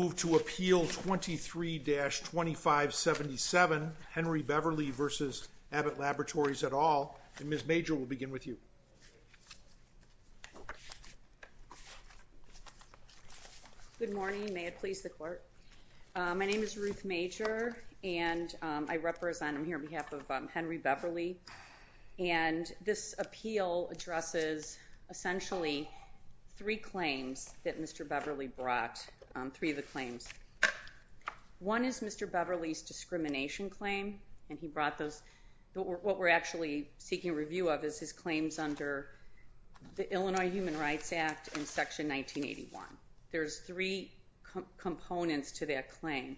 Move to Appeal 23-2577 Henry Beverly v. Abbott Laboratories et al. Ms. Major will begin with you. Good morning, may it please the court. My name is Ruth Major and I represent, I'm here on behalf of Henry Beverly and this appeal addresses essentially three claims that Mr. Abbott claims. One is Mr. Beverly's discrimination claim and he brought those, what we're actually seeking review of is his claims under the Illinois Human Rights Act in Section 1981. There's three components to that claim.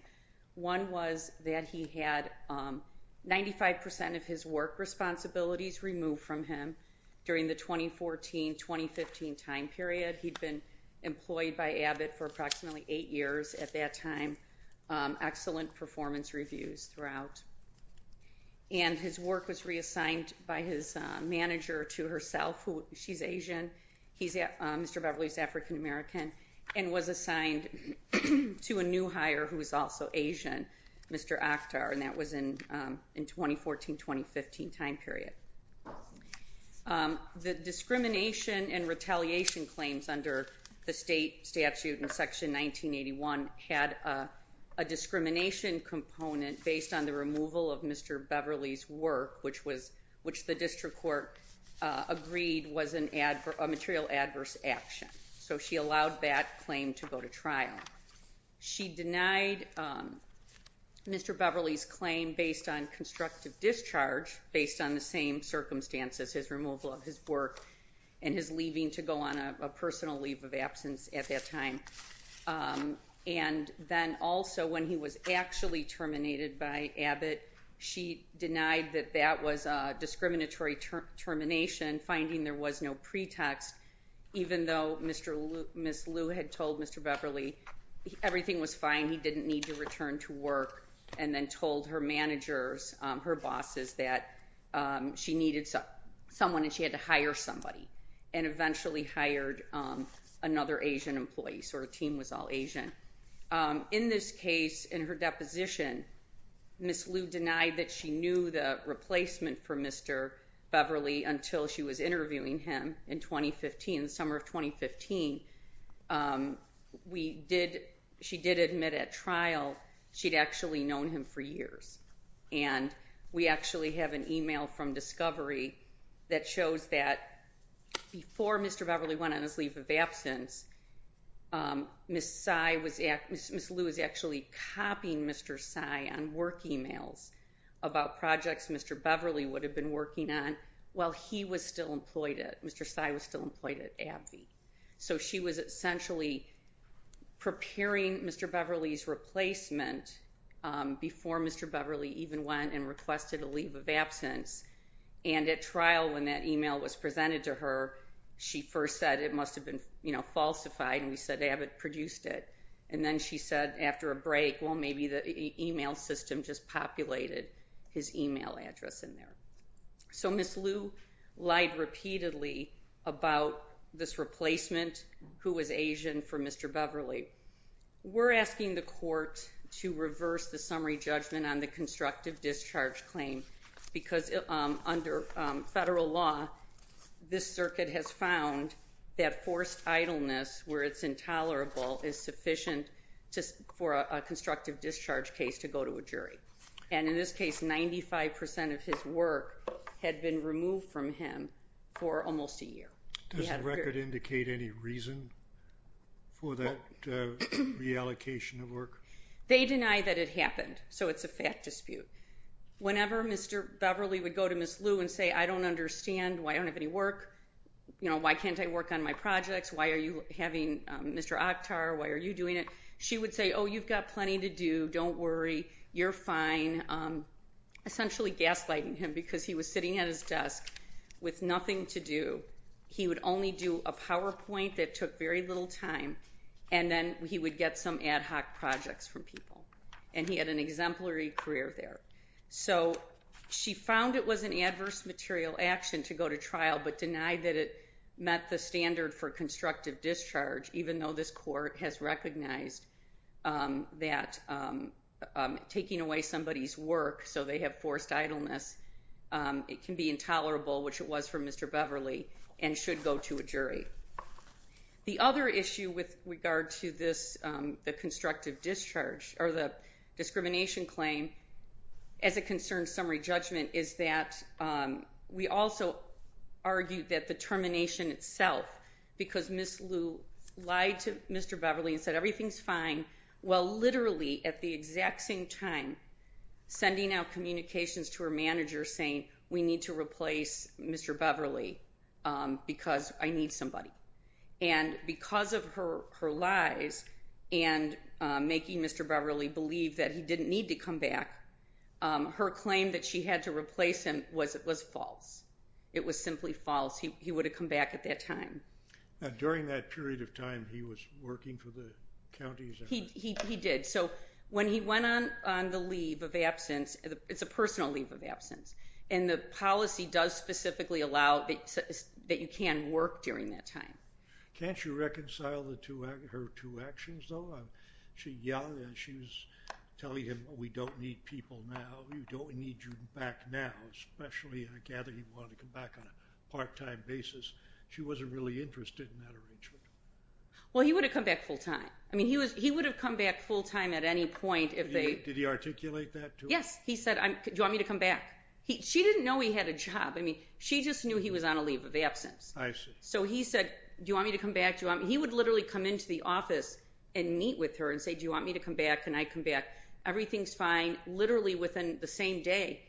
One was that he had 95% of his work responsibilities removed from him during the 2014-2015 time period. He'd been employed by Abbott for approximately 8 years at that time, excellent performance reviews throughout. And his work was reassigned by his manager to herself, she's Asian, Mr. Beverly's African American, and was assigned to a new hire who was also Asian, Mr. Akhtar, and that was in 2014-2015 time period. The discrimination and retaliation claims under the state statute in Section 1981 had a discrimination component based on the removal of Mr. Beverly's work, which the district court agreed was a material adverse action. So she allowed that claim to go to trial. She denied Mr. Beverly's claim based on constructive discharge, based on the same circumstances, his removal of his work and his leaving to go on a personal leave of absence at that time. And then also when he was actually terminated by Abbott, she denied that that was a discriminatory termination, finding there was no pretext, even though Ms. Liu had told Mr. Beverly everything was fine, he didn't need to return to work, and then told her managers, her bosses, that she needed someone and she had to hire somebody, and eventually hired another Asian employee, so her team was all Asian. In this case, in her deposition, Ms. Liu denied that she knew the replacement for Mr. Beverly until she was interviewing him in 2015, summer of 2015. She did admit at trial she'd actually known him for years. And we actually have an email from discovery that shows that before Mr. Beverly went on his leave of absence, Ms. Liu was actually copying Mr. Tsai on work emails about projects Mr. Beverly would have been working on while he was still employed at, Mr. Tsai was still employed at AbbVie. So she was essentially preparing Mr. Beverly's replacement before Mr. Beverly even went and requested a leave of absence. And at trial, when that email was presented to her, she first said it must have been falsified, and we said Abbott produced it. And then she said after a break, well, maybe the email system just populated his email address in there. So Ms. Liu lied repeatedly about this replacement, who was Asian, for Mr. Beverly. We're asking the court to reverse the summary judgment on the constructive discharge claim, because under federal law, this circuit has found that forced idleness where it's intolerable is sufficient for a constructive discharge case to go to a jury. And in this case, 95% of his work had been removed from him for almost a year. Does the record indicate any reason for that reallocation of work? They deny that it happened, so it's a fact dispute. Whenever Mr. Beverly would go to Ms. Liu and say, I don't understand, I don't have any work, why can't I work on my projects, why are you having Mr. Akhtar, why are you doing it? She would say, oh, you've got plenty to do, don't worry, you're fine, essentially gaslighting him because he was sitting at his desk with nothing to do. He would only do a PowerPoint that took very little time, and then he would get some ad hoc projects from people. And he had an exemplary career there. So she found it was an adverse material action to go to trial, but denied that it met the standard for constructive discharge, even though this court has recognized that taking away somebody's work, so they have forced idleness, it can be intolerable, which it was for Mr. Beverly, and should go to a jury. The other issue with regard to this, the constructive discharge, or the discrimination claim, as it concerns summary judgment, is that we also argue that the termination itself, because Ms. Liu lied to Mr. Beverly and said everything's fine, while literally at the exact same time sending out communications to her manager saying, we need to replace Mr. Beverly because I need somebody. And because of her lies and making Mr. Beverly believe that he didn't need to come back, her claim that she had to replace him was false. It was simply false. He would have come back at that time. During that period of time, he was working for the counties? He did. So when he went on the leave of absence, it's a personal leave of absence, and the policy does specifically allow that you can work during that time. Can't you reconcile her two actions, though? She yelled and she was telling him, we don't need people now, we don't need you back now, especially, I gather, he wanted to come back on a part-time basis. She wasn't really interested in that arrangement. Well, he would have come back full-time. I mean, he would have come back full-time at any point if they... Did he articulate that to her? Yes. He said, do you want me to come back? She didn't know he had a job. I mean, she just knew he was on a leave of absence. I see. So he said, do you want me to come back? He would literally come into the office and meet with her and say, do you want me to come back? Can I come back? Everything's fine. Literally within the same day,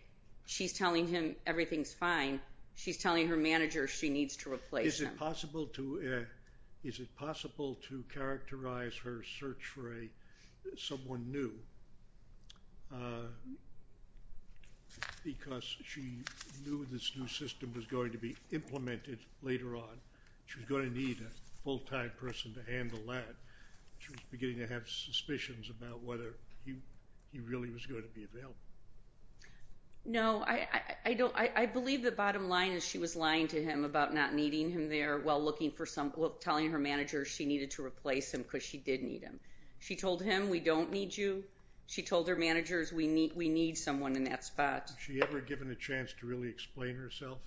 she's telling him everything's fine. She's telling her manager she needs to replace him. Is it possible to characterize her search for someone new because she knew this new She was going to need a full-time person to handle that. She was beginning to have suspicions about whether he really was going to be available. No, I believe the bottom line is she was lying to him about not needing him there while looking for someone, telling her manager she needed to replace him because she did need him. She told him, we don't need you. She told her managers, we need someone in that spot. Was she ever given a chance to really explain herself?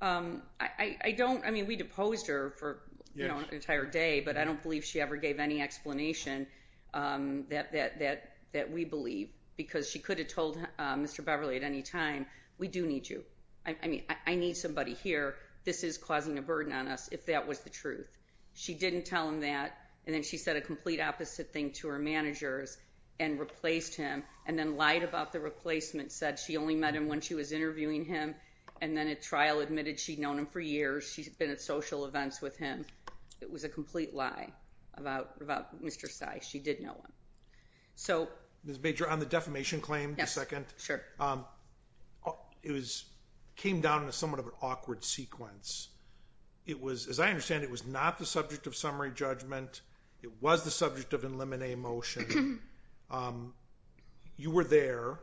I don't. I mean, we deposed her for an entire day, but I don't believe she ever gave any explanation that we believe because she could have told Mr. Beverly at any time, we do need you. I mean, I need somebody here. This is causing a burden on us, if that was the truth. She didn't tell him that. And then she said a complete opposite thing to her managers and replaced him and then lied about the replacement, said she only met him when she was interviewing him and then at trial admitted she'd known him for years. She's been at social events with him. It was a complete lie about Mr. Sy. She did know him. So Ms. Bajor, on the defamation claim, just a second. It came down in a somewhat of an awkward sequence. It was, as I understand, it was not the subject of summary judgment. It was the subject of an eliminate motion. You were there.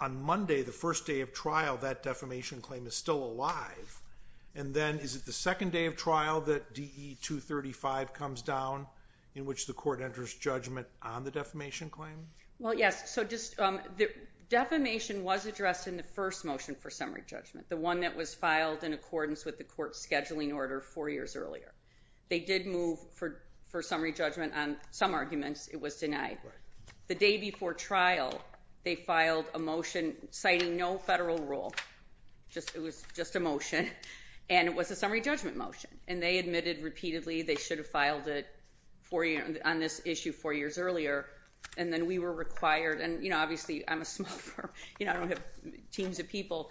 On Monday, the first day of trial, that defamation claim is still alive. And then is it the second day of trial that DE 235 comes down in which the court enters judgment on the defamation claim? Well, yes. So just the defamation was addressed in the first motion for summary judgment, the one that was filed in accordance with the court's scheduling order four years earlier. They did move for summary judgment on some arguments. It was denied. The day before trial, they filed a motion citing no federal rule. It was just a motion. And it was a summary judgment motion. And they admitted repeatedly they should have filed it on this issue four years earlier. And then we were required, and obviously I'm a small firm. I don't have teams of people.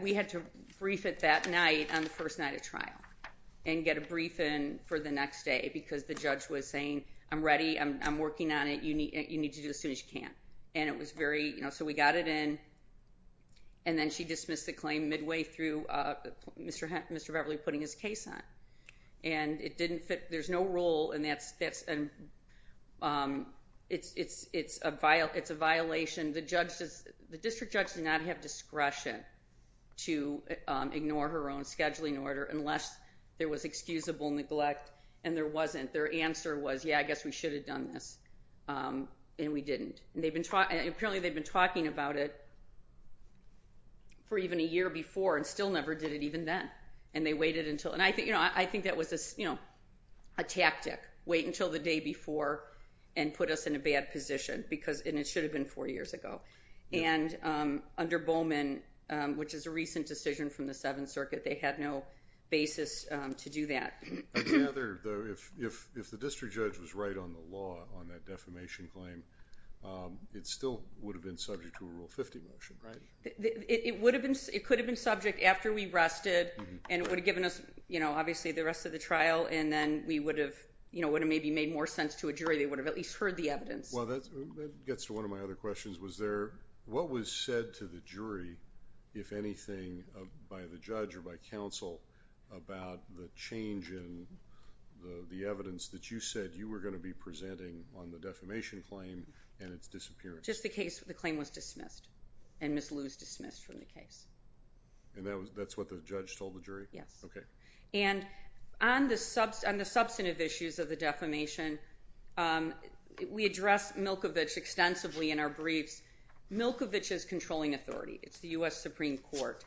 We had to brief it that night on the first night of trial and get a brief in for the next day because the judge was saying, I'm ready. I'm working on it. You need to do it as soon as you can. And it was very, so we got it in. And then she dismissed the claim midway through Mr. Beverly putting his case on. And it didn't fit. There's no discretion to ignore her own scheduling order unless there was excusable neglect. And there wasn't. Their answer was, yeah, I guess we should have done this. And we didn't. Apparently they'd been talking about it for even a year before and still never did it even then. And they waited until, and I think that was a tactic, wait until the day before and put us in a bad position because, and it should have been four years ago. And under Bowman, which is a recent decision from the Seventh Circuit, they had no basis to do that. I gather, though, if the district judge was right on the law on that defamation claim, it still would have been subject to a Rule 50 motion. It would have been, it could have been subject after we rested and it would have given us, you know, obviously the rest of the trial. And then we would have, you know, would have maybe made more sense to a jury. They would have at least heard the evidence. Well, that gets to one of my other questions. Was there, what was said to the jury, if anything, by the judge or by counsel, about the change in the evidence that you said you were going to be presenting on the defamation claim and its disappearance? Just the case, the claim was dismissed. And Ms. Liu's dismissed from the case. And that's what the judge told the jury? Yes. Okay. And on the substantive issues of the defamation, we address Milkovich extensively in our briefs. Milkovich is controlling authority. It's the U.S. Supreme Court.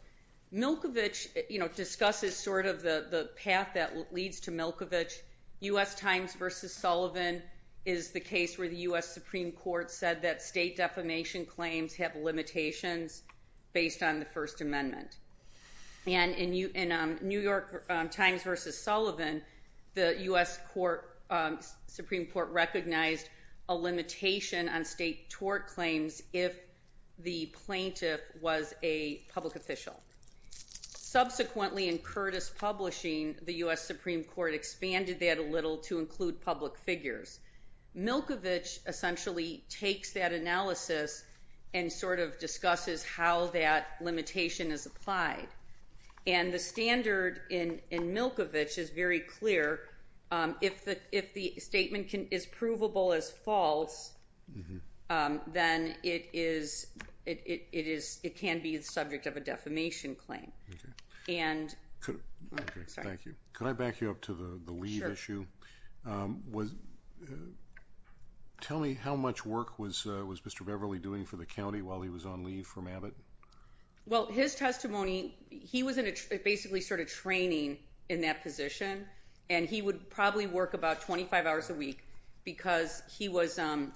Milkovich, you know, discusses sort of the path that leads to Milkovich. U.S. Times v. Sullivan is the case where the U.S. Supreme Court said that state defamation claims have limitations based on the First Amendment. And in New York Times v. Sullivan, the U.S. Supreme Court recognized a limitation on state tort claims if the plaintiff was a public official. Subsequently, in Curtis Publishing, the U.S. Supreme Court expanded that a little to include public figures. Milkovich essentially takes that analysis and sort of discusses how that limitation is applied. And the standard in Milkovich is very clear. If the statement is provable as false, then it is, it can be the subject of a defamation claim. Okay. And... Could... Okay. Thank you. Could I back you up to the lead issue? Sure. Tell me, how much work was Mr. Beverly doing for the county while he was on leave from Abbott? Well, his testimony, he was basically sort of training in that position. And he would probably work about 25 hours a week because he was, the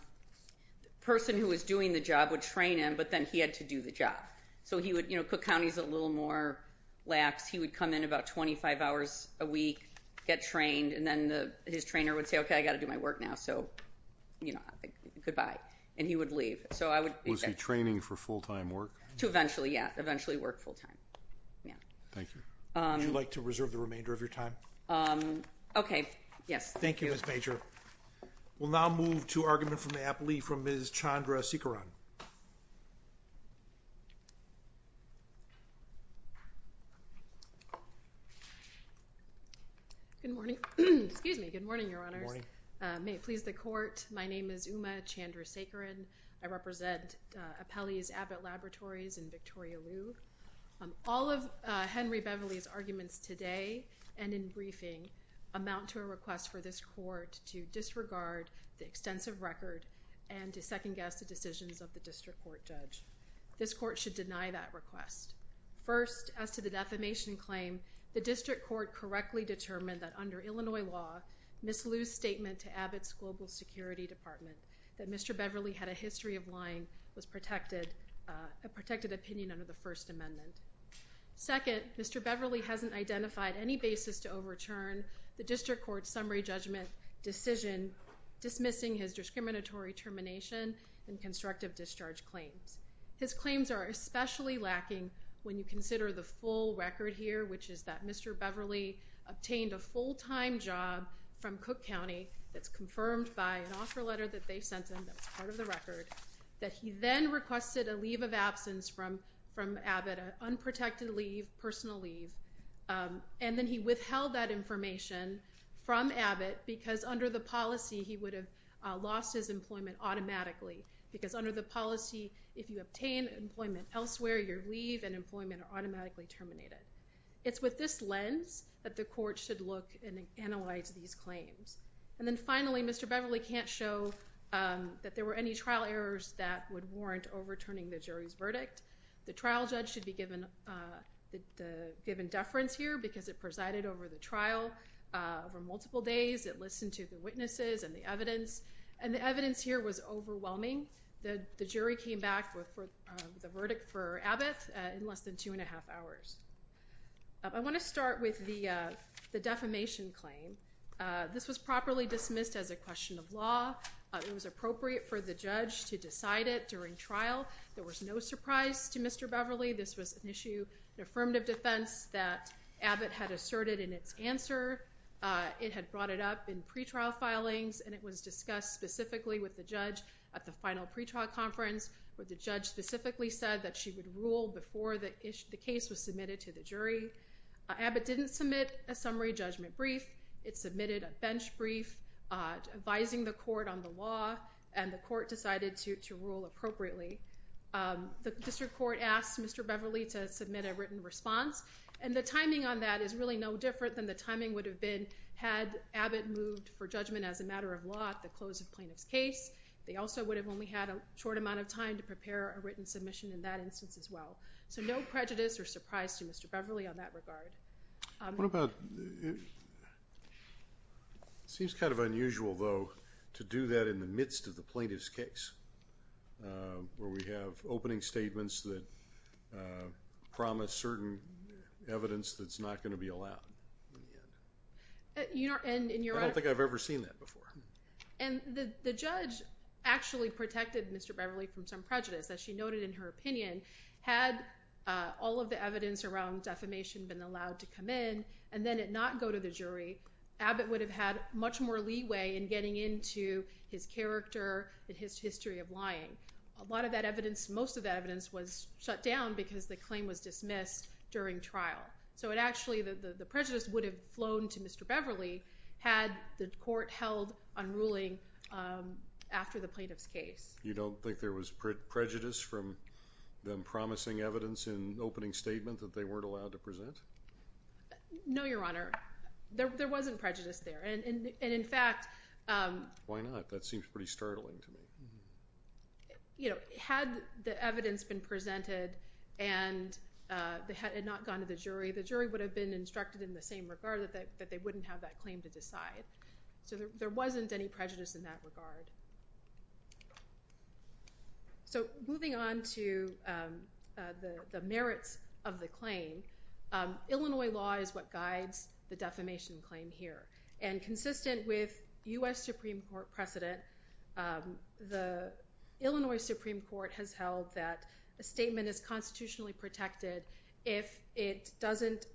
person who was doing the job would train him, but then he had to do the job. So he would, you know, Cook County's a little more lax, he would come in about 25 hours a week, get trained, and then his trainer would say, okay, I've got to do my work now. So, you know, goodbye. And he would leave. So I would... Was he training for full-time work? To eventually, yeah. Eventually work full-time. Yeah. Thank you. Would you like to reserve the remainder of your time? Okay. Yes. Thank you, Ms. Major. We'll now move to argument from the apple leaf from Ms. Chandra Sikaran. Good morning. Excuse me. Good morning, Your Honors. Good morning. May it please the Court. My name is Uma Chandra Sikaran. I represent Appellee's Abbott Laboratories in Victoria Loo. All of Henry Beverly's arguments today and in briefing amount to a request for this Court to disregard the extensive record and to second-guess the decisions of the District Court Judge. This Court should deny that request. First, as to the defamation claim, the District Court correctly determined that under Illinois law, Ms. Loo's statement to Abbott's Global Security Department that Mr. Beverly had a history of lying was a protected opinion under the First Amendment. Second, Mr. Beverly hasn't identified any basis to overturn the District Court's summary judgment decision dismissing his discriminatory termination and constructive discharge claims. His claims are especially lacking when you consider the full record here, which is that Mr. Beverly obtained a full-time job from Cook County that's confirmed by an offer letter that they sent him that's part of the record, that he then requested a leave of absence from Abbott, an unprotected leave, personal leave, and then he withheld that information from Abbott because under the policy he would have lost his employment automatically because under the policy, if you obtain employment elsewhere, your leave and employment are automatically terminated. It's with this lens that the Court should look and analyze these claims. And then finally, Mr. Beverly can't show that there were any trial errors that would warrant overturning the jury's verdict. The trial judge should be given deference here because it presided over the trial over multiple days. It listened to the witnesses and the evidence, and the evidence here was overwhelming. The jury came back with the verdict for Abbott in less than two and a half hours. I want to start with the defamation claim. This was properly dismissed as a question of law. It was appropriate for the judge to decide it during trial. There was no surprise to Mr. Beverly. This was an issue in affirmative defense that Abbott had asserted in its answer. It had brought it up in pretrial filings, and it was discussed specifically with the judge at the final pretrial conference where the judge specifically said that she would rule before the case was submitted to the jury. Abbott didn't submit a summary judgment brief. It submitted a bench brief advising the Court on the law, and the Court decided to rule appropriately. The district court asked Mr. Beverly to submit a written response, and the timing on that is really no different than the timing would have been had Abbott moved for judgment as a matter of law at the close of the plaintiff's case. They also would have only had a short amount of time to prepare a written submission in that instance as well. So no prejudice or surprise to Mr. Beverly on that regard. It seems kind of unusual, though, to do that in the midst of the plaintiff's case where we have opening statements that promise certain evidence that's not going to be allowed in the end. I don't think I've ever seen that before. And the judge actually protected Mr. Beverly from some prejudice, as she noted in her opinion. Had all of the evidence around defamation been allowed to come in and then it not go to the jury, Abbott would have had much more leeway in getting into his character and his history of lying. A lot of that evidence, most of that evidence was shut down because the claim was dismissed during trial. So it actually, the prejudice would have flown to Mr. Beverly had the Court held on ruling after the plaintiff's case. You don't think there was prejudice from them promising evidence in opening statement that they weren't allowed to present? No, Your Honor. There wasn't prejudice there. And in fact- Why not? That seems pretty startling to me. Had the evidence been presented and it had not gone to the jury, the jury would have been instructed in the same regard that they wouldn't have that claim to decide. So there wasn't any prejudice in that regard. So moving on to the merits of the claim. Illinois law is what guides the defamation claim here. And consistent with U.S. Supreme Court precedent, the Illinois Supreme Court has held that a statement is constitutionally protected if it doesn't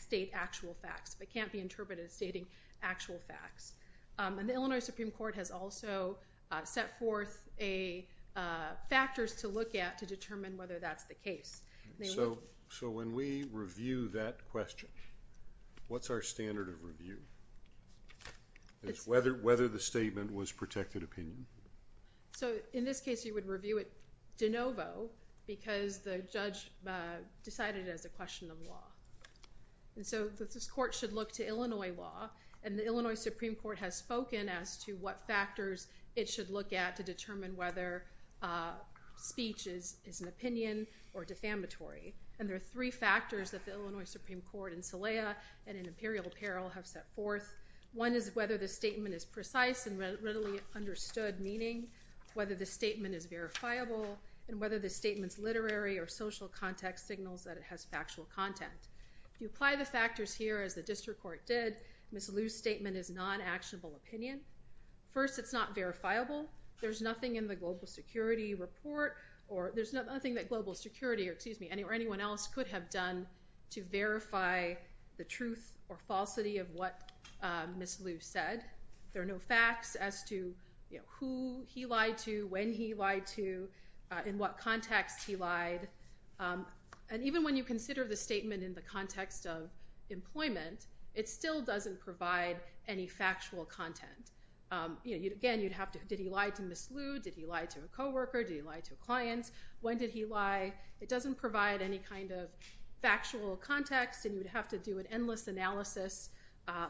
state actual facts. It can't be interpreted as stating actual facts. And the Illinois Supreme Court has also set forth factors to look at to determine whether that's the case. So when we review that question, what's our standard of review? It's whether the statement was protected opinion. So in this case, you would review it de novo because the judge decided it as a question of law. And so this court should look to Illinois law. And the Illinois Supreme Court has spoken as to what factors it should look at to determine whether speech is an opinion or defamatory. And there are three factors that the Illinois Supreme Court in SELEA and in Imperial Apparel have set forth. One is whether the statement is precise and readily understood meaning, whether the statement is verifiable, and whether the statement's literary or social context signals that it has factual content. If you apply the factors here as the district court did, Ms. Liu's statement is non-actionable opinion. First, it's not verifiable. There's nothing in the global security report or there's nothing that global security or anyone else could have done to verify the truth or falsity of what Ms. Liu said. There are no facts as to who he lied to, when he lied to, in what context he lied. And even when you consider the statement in the context of employment, it still doesn't provide any factual content. Again, you'd have to, did he lie to Ms. Liu? Did he lie to a coworker? Did he lie to a client? When did he lie? It doesn't provide any kind of factual context. And you would have to do an endless analysis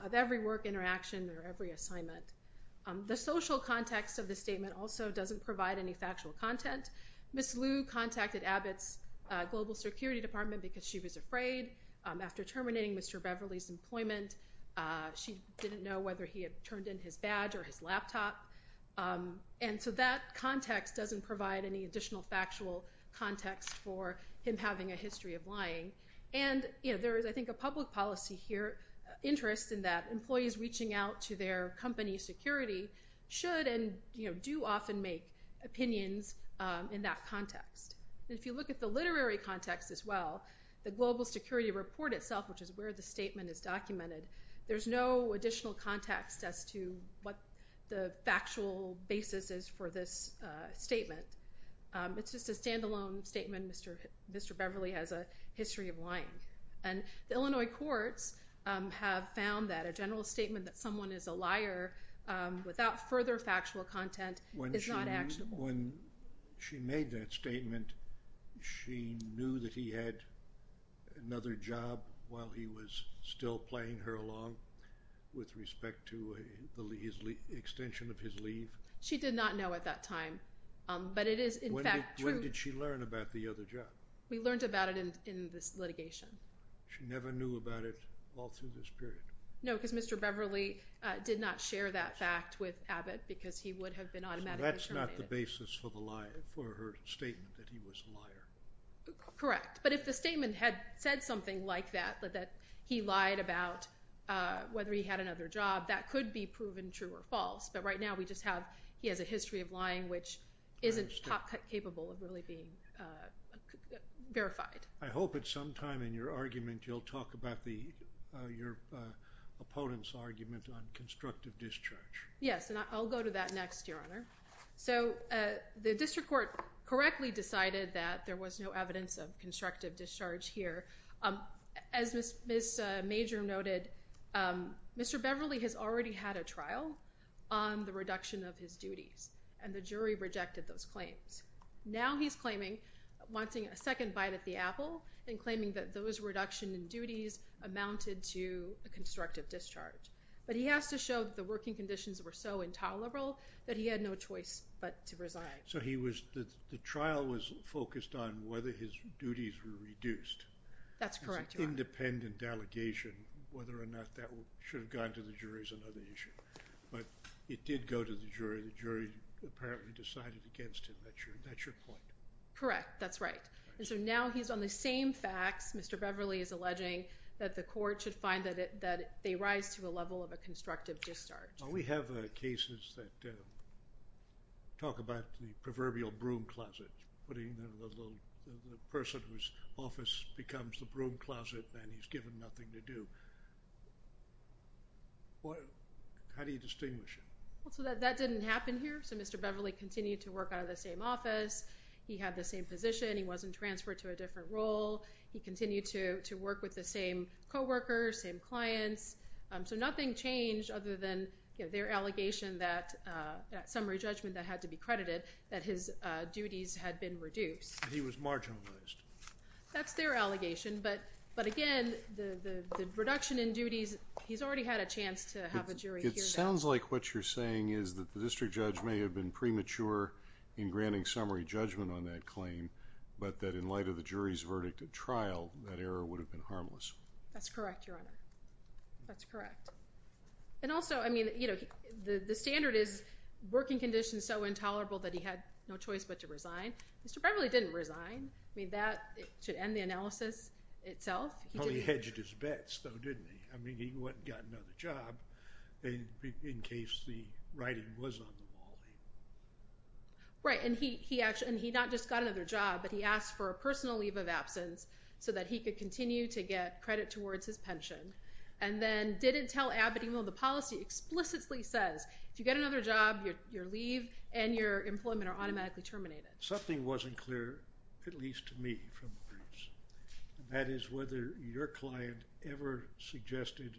of every work interaction or every assignment. The social context of the statement also doesn't provide any factual content. Ms. Liu contacted Abbott's global security department because she was afraid. After terminating Mr. Beverly's employment, she didn't know whether he had turned in his badge or his laptop. And so that context doesn't provide any additional factual context for him having a history of lying. And there is, I think, a public policy interest in that employees reaching out to their company's security should and do often make opinions in that context. And if you look at the literary context as well, the global security report itself, which is where the statement is documented, there's no additional context as to what the factual basis is for this statement. It's just a standalone statement. Mr. Beverly has a history of lying. And the Illinois courts have found that a general statement that someone is a liar without further factual content is not actionable. When she made that statement, she knew that he had another job while he was still playing her along with respect to the extension of his leave? She did not know at that time. When did she learn about the other job? We learned about it in this litigation. She never knew about it all through this period? No, because Mr. Beverly did not share that fact with Abbott because he would have been automatically terminated. So that's not the basis for her statement that he was a liar? Correct. But if the statement had said something like that, that he lied about whether he had another job, that could be proven true or false. But right now we just have he has a history of lying, which isn't top-cut capable of really being verified. I hope at some time in your argument you'll talk about your opponent's argument on constructive discharge. Yes, and I'll go to that next, Your Honor. So the district court correctly decided that there was no evidence of constructive discharge here. As Ms. Major noted, Mr. Beverly has already had a trial on the reduction of his duties, and the jury rejected those claims. Now he's claiming a second bite at the apple and claiming that those reduction in duties amounted to a constructive discharge. But he has to show that the working conditions were so intolerable that he had no choice but to resign. So the trial was focused on whether his duties were reduced? That's correct, Your Honor. It's an independent delegation. Whether or not that should have gone to the jury is another issue. But it did go to the jury. The jury apparently decided against him. That's your point? Correct. That's right. And so now he's on the same facts, Mr. Beverly is alleging, that the court should find that they rise to a level of a constructive discharge. We have cases that talk about the proverbial broom closet, putting the person whose office becomes the broom closet and he's given nothing to do. How do you distinguish him? Well, so that didn't happen here. So Mr. Beverly continued to work out of the same office. He had the same position. He wasn't transferred to a different role. He continued to work with the same co-workers, same clients. So nothing changed other than their allegation that summary judgment that had to be credited, that his duties had been reduced. He was marginalized. That's their allegation. But again, the reduction in duties, he's already had a chance to have a jury hear that. It sounds like what you're saying is that the district judge may have been premature in granting summary judgment on that claim, but that in light of the jury's verdict at trial, that error would have been harmless. That's correct, Your Honor. That's correct. And also, I mean, you know, the standard is working conditions so intolerable that he had no choice but to resign. Mr. Beverly didn't resign. I mean, that should end the analysis itself. He hedged his bets, though, didn't he? I mean, he went and got another job in case the writing was on the wall. Right. And he not just got another job, but he asked for a personal leave of absence so that he could continue to get credit towards his pension and then didn't tell Abedino the policy explicitly says, if you get another job, your leave and your employment are automatically terminated. Something wasn't clear, at least to me, from the courts, and that is whether your client ever suggested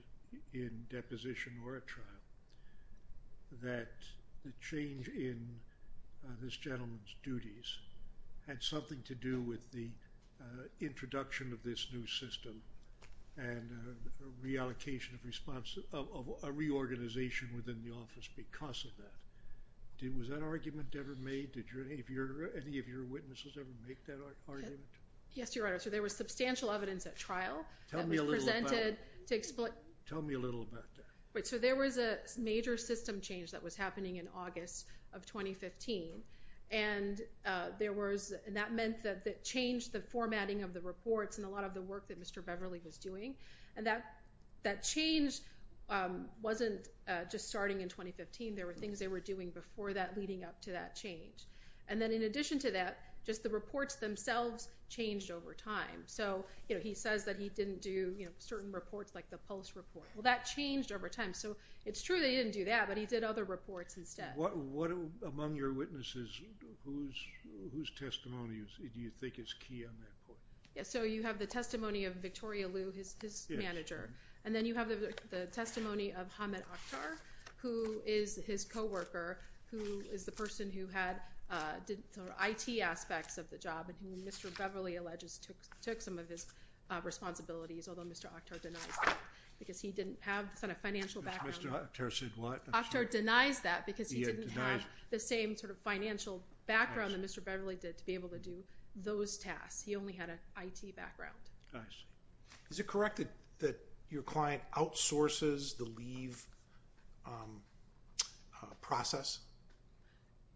in deposition or at trial that the change in this gentleman's duties had something to do with the introduction of this new system and reallocation of response, of a reorganization within the office because of that. Was that argument ever made? Did any of your witnesses ever make that argument? Yes, Your Honor. So there was substantial evidence at trial. Tell me a little about it. Tell me a little about that. So there was a major system change that was happening in August of 2015, and that meant that it changed the formatting of the reports and a lot of the work that Mr. Beverly was doing. And that change wasn't just starting in 2015. There were things they were doing before that leading up to that change. And then in addition to that, just the reports themselves changed over time. So he says that he didn't do certain reports like the Pulse report. Well, that changed over time. So it's true that he didn't do that, but he did other reports instead. What among your witnesses, whose testimony do you think is key on that point? So you have the testimony of Victoria Liu, his manager, and then you have the testimony of Hamed Akhtar, who is his coworker, who is the person who had IT aspects of the job and who Mr. Beverly alleges took some of his responsibilities, although Mr. Akhtar denies that because he didn't have the sort of financial background. Mr. Akhtar said what? Akhtar denies that because he didn't have the same sort of financial background that Mr. Beverly did to be able to do those tasks. He only had an IT background. I see. Is it correct that your client outsources the leave process?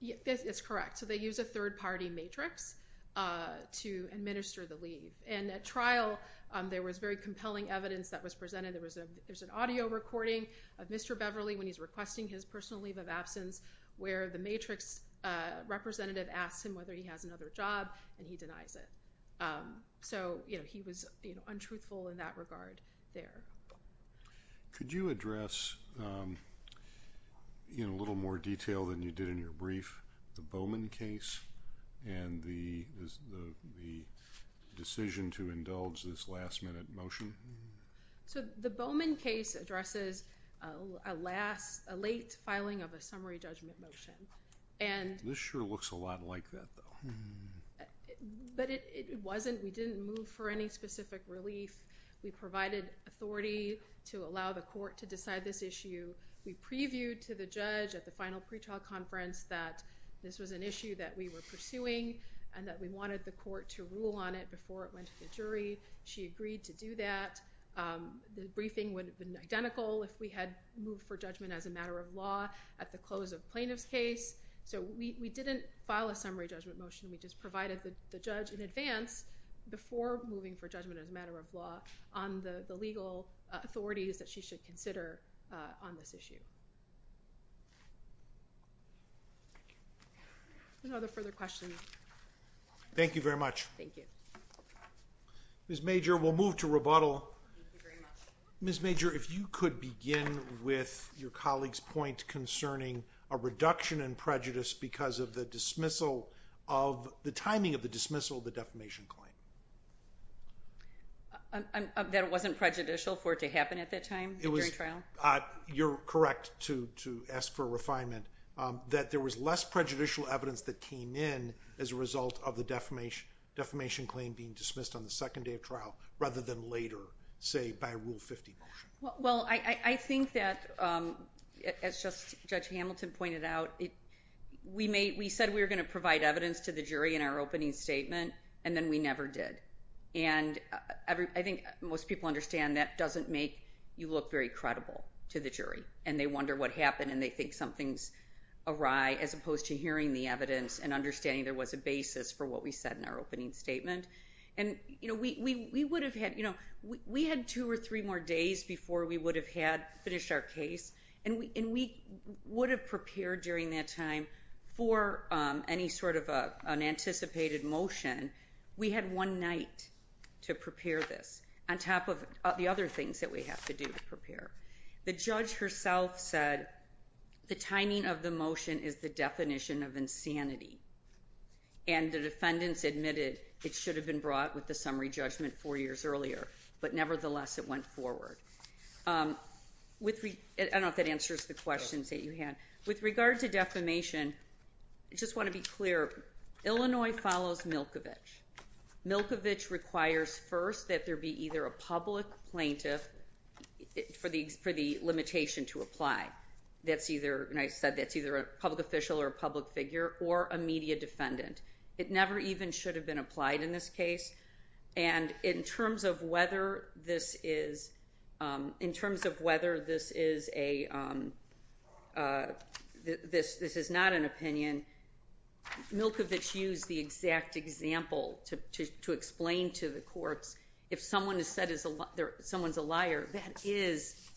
It's correct. So they use a third-party matrix to administer the leave. And at trial, there was very compelling evidence that was presented. There's an audio recording of Mr. Beverly when he's requesting his personal leave of absence where the matrix representative asks him whether he has another job, and he denies it. So he was untruthful in that regard there. Could you address in a little more detail than you did in your brief the Bowman case and the decision to indulge this last-minute motion? So the Bowman case addresses a late filing of a summary judgment motion. This sure looks a lot like that, though. But it wasn't. We didn't move for any specific relief. We provided authority to allow the court to decide this issue. We previewed to the judge at the final pretrial conference that this was an issue that we were pursuing and that we wanted the court to rule on it before it went to the jury. She agreed to do that. The briefing would have been identical if we had moved for judgment as a matter of law at the close of plaintiff's case. So we didn't file a summary judgment motion. We just provided the judge in advance before moving for judgment as a matter of law on the legal authorities that she should consider on this issue. Are there further questions? Thank you very much. Thank you. Ms. Major, we'll move to rebuttal. Ms. Major, if you could begin with your colleague's point concerning a reduction in prejudice because of the timing of the dismissal of the defamation claim. That it wasn't prejudicial for it to happen at that time during trial? You're correct to ask for a refinement, that there was less prejudicial evidence that came in as a result of the defamation claim being dismissed on the second day of trial rather than later, say, by a Rule 50 motion. Well, I think that, as Judge Hamilton pointed out, we said we were going to provide evidence to the jury in our opening statement and then we never did. And I think most people understand that doesn't make you look very credible to the jury and they wonder what happened and they think something's awry as opposed to hearing the evidence and understanding there was a basis for what we said in our opening statement. We had two or three more days before we would have finished our case and we would have prepared during that time for any sort of unanticipated motion. We had one night to prepare this on top of the other things that we have to do to prepare. The judge herself said the timing of the motion is the definition of insanity and the defendants admitted it should have been brought with the summary judgment four years earlier, but nevertheless it went forward. I don't know if that answers the questions that you had. With regard to defamation, I just want to be clear, Illinois follows Milkovich. Milkovich requires first that there be either a public plaintiff for the limitation to apply. And I said that's either a public official or a public figure or a media defendant. It never even should have been applied in this case. And in terms of whether this is not an opinion, Milkovich used the exact example to explain to the courts if someone is said someone's a liar, that is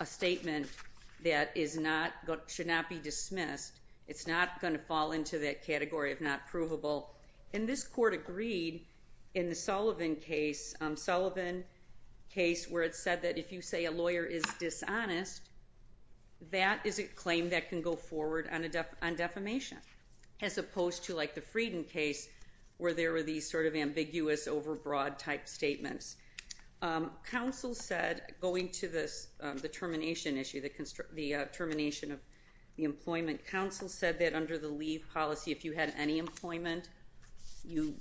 a statement that should not be dismissed. It's not going to fall into that category of not provable. And this court agreed in the Sullivan case where it said that if you say a lawyer is dishonest, that is a claim that can go forward on defamation, as opposed to like the Frieden case where there were these sort of ambiguous over broad type statements. Counsel said going to the termination issue, the termination of the employment, counsel said that under the leave policy if you had any employment, you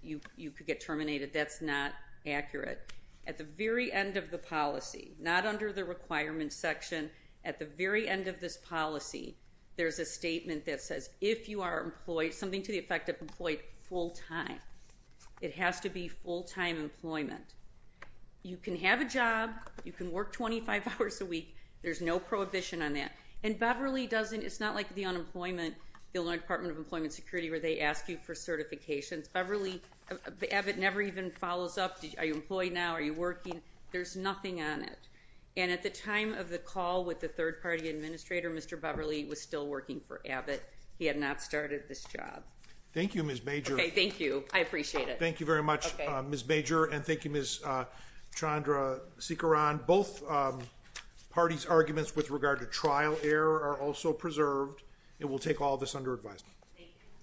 could get terminated. That's not accurate. At the very end of the policy, not under the requirements section, at the very end of this policy, there's a statement that says if you are employed, something to the effect of employed full-time. It has to be full-time employment. You can have a job. You can work 25 hours a week. There's no prohibition on that. And Beverly doesn't, it's not like the unemployment, the Illinois Department of Employment Security where they ask you for certifications. Beverly, Abbott never even follows up. Are you employed now? Are you working? There's nothing on it. And at the time of the call with the third-party administrator, Mr. Beverly was still working for Abbott. He had not started this job. Thank you, Ms. Major. Okay, thank you. I appreciate it. Thank you very much, Ms. Major, and thank you, Ms. Chandra Sikaran. Both parties' arguments with regard to trial error are also preserved. It will take all of this under advisement. Thank you. Thank you.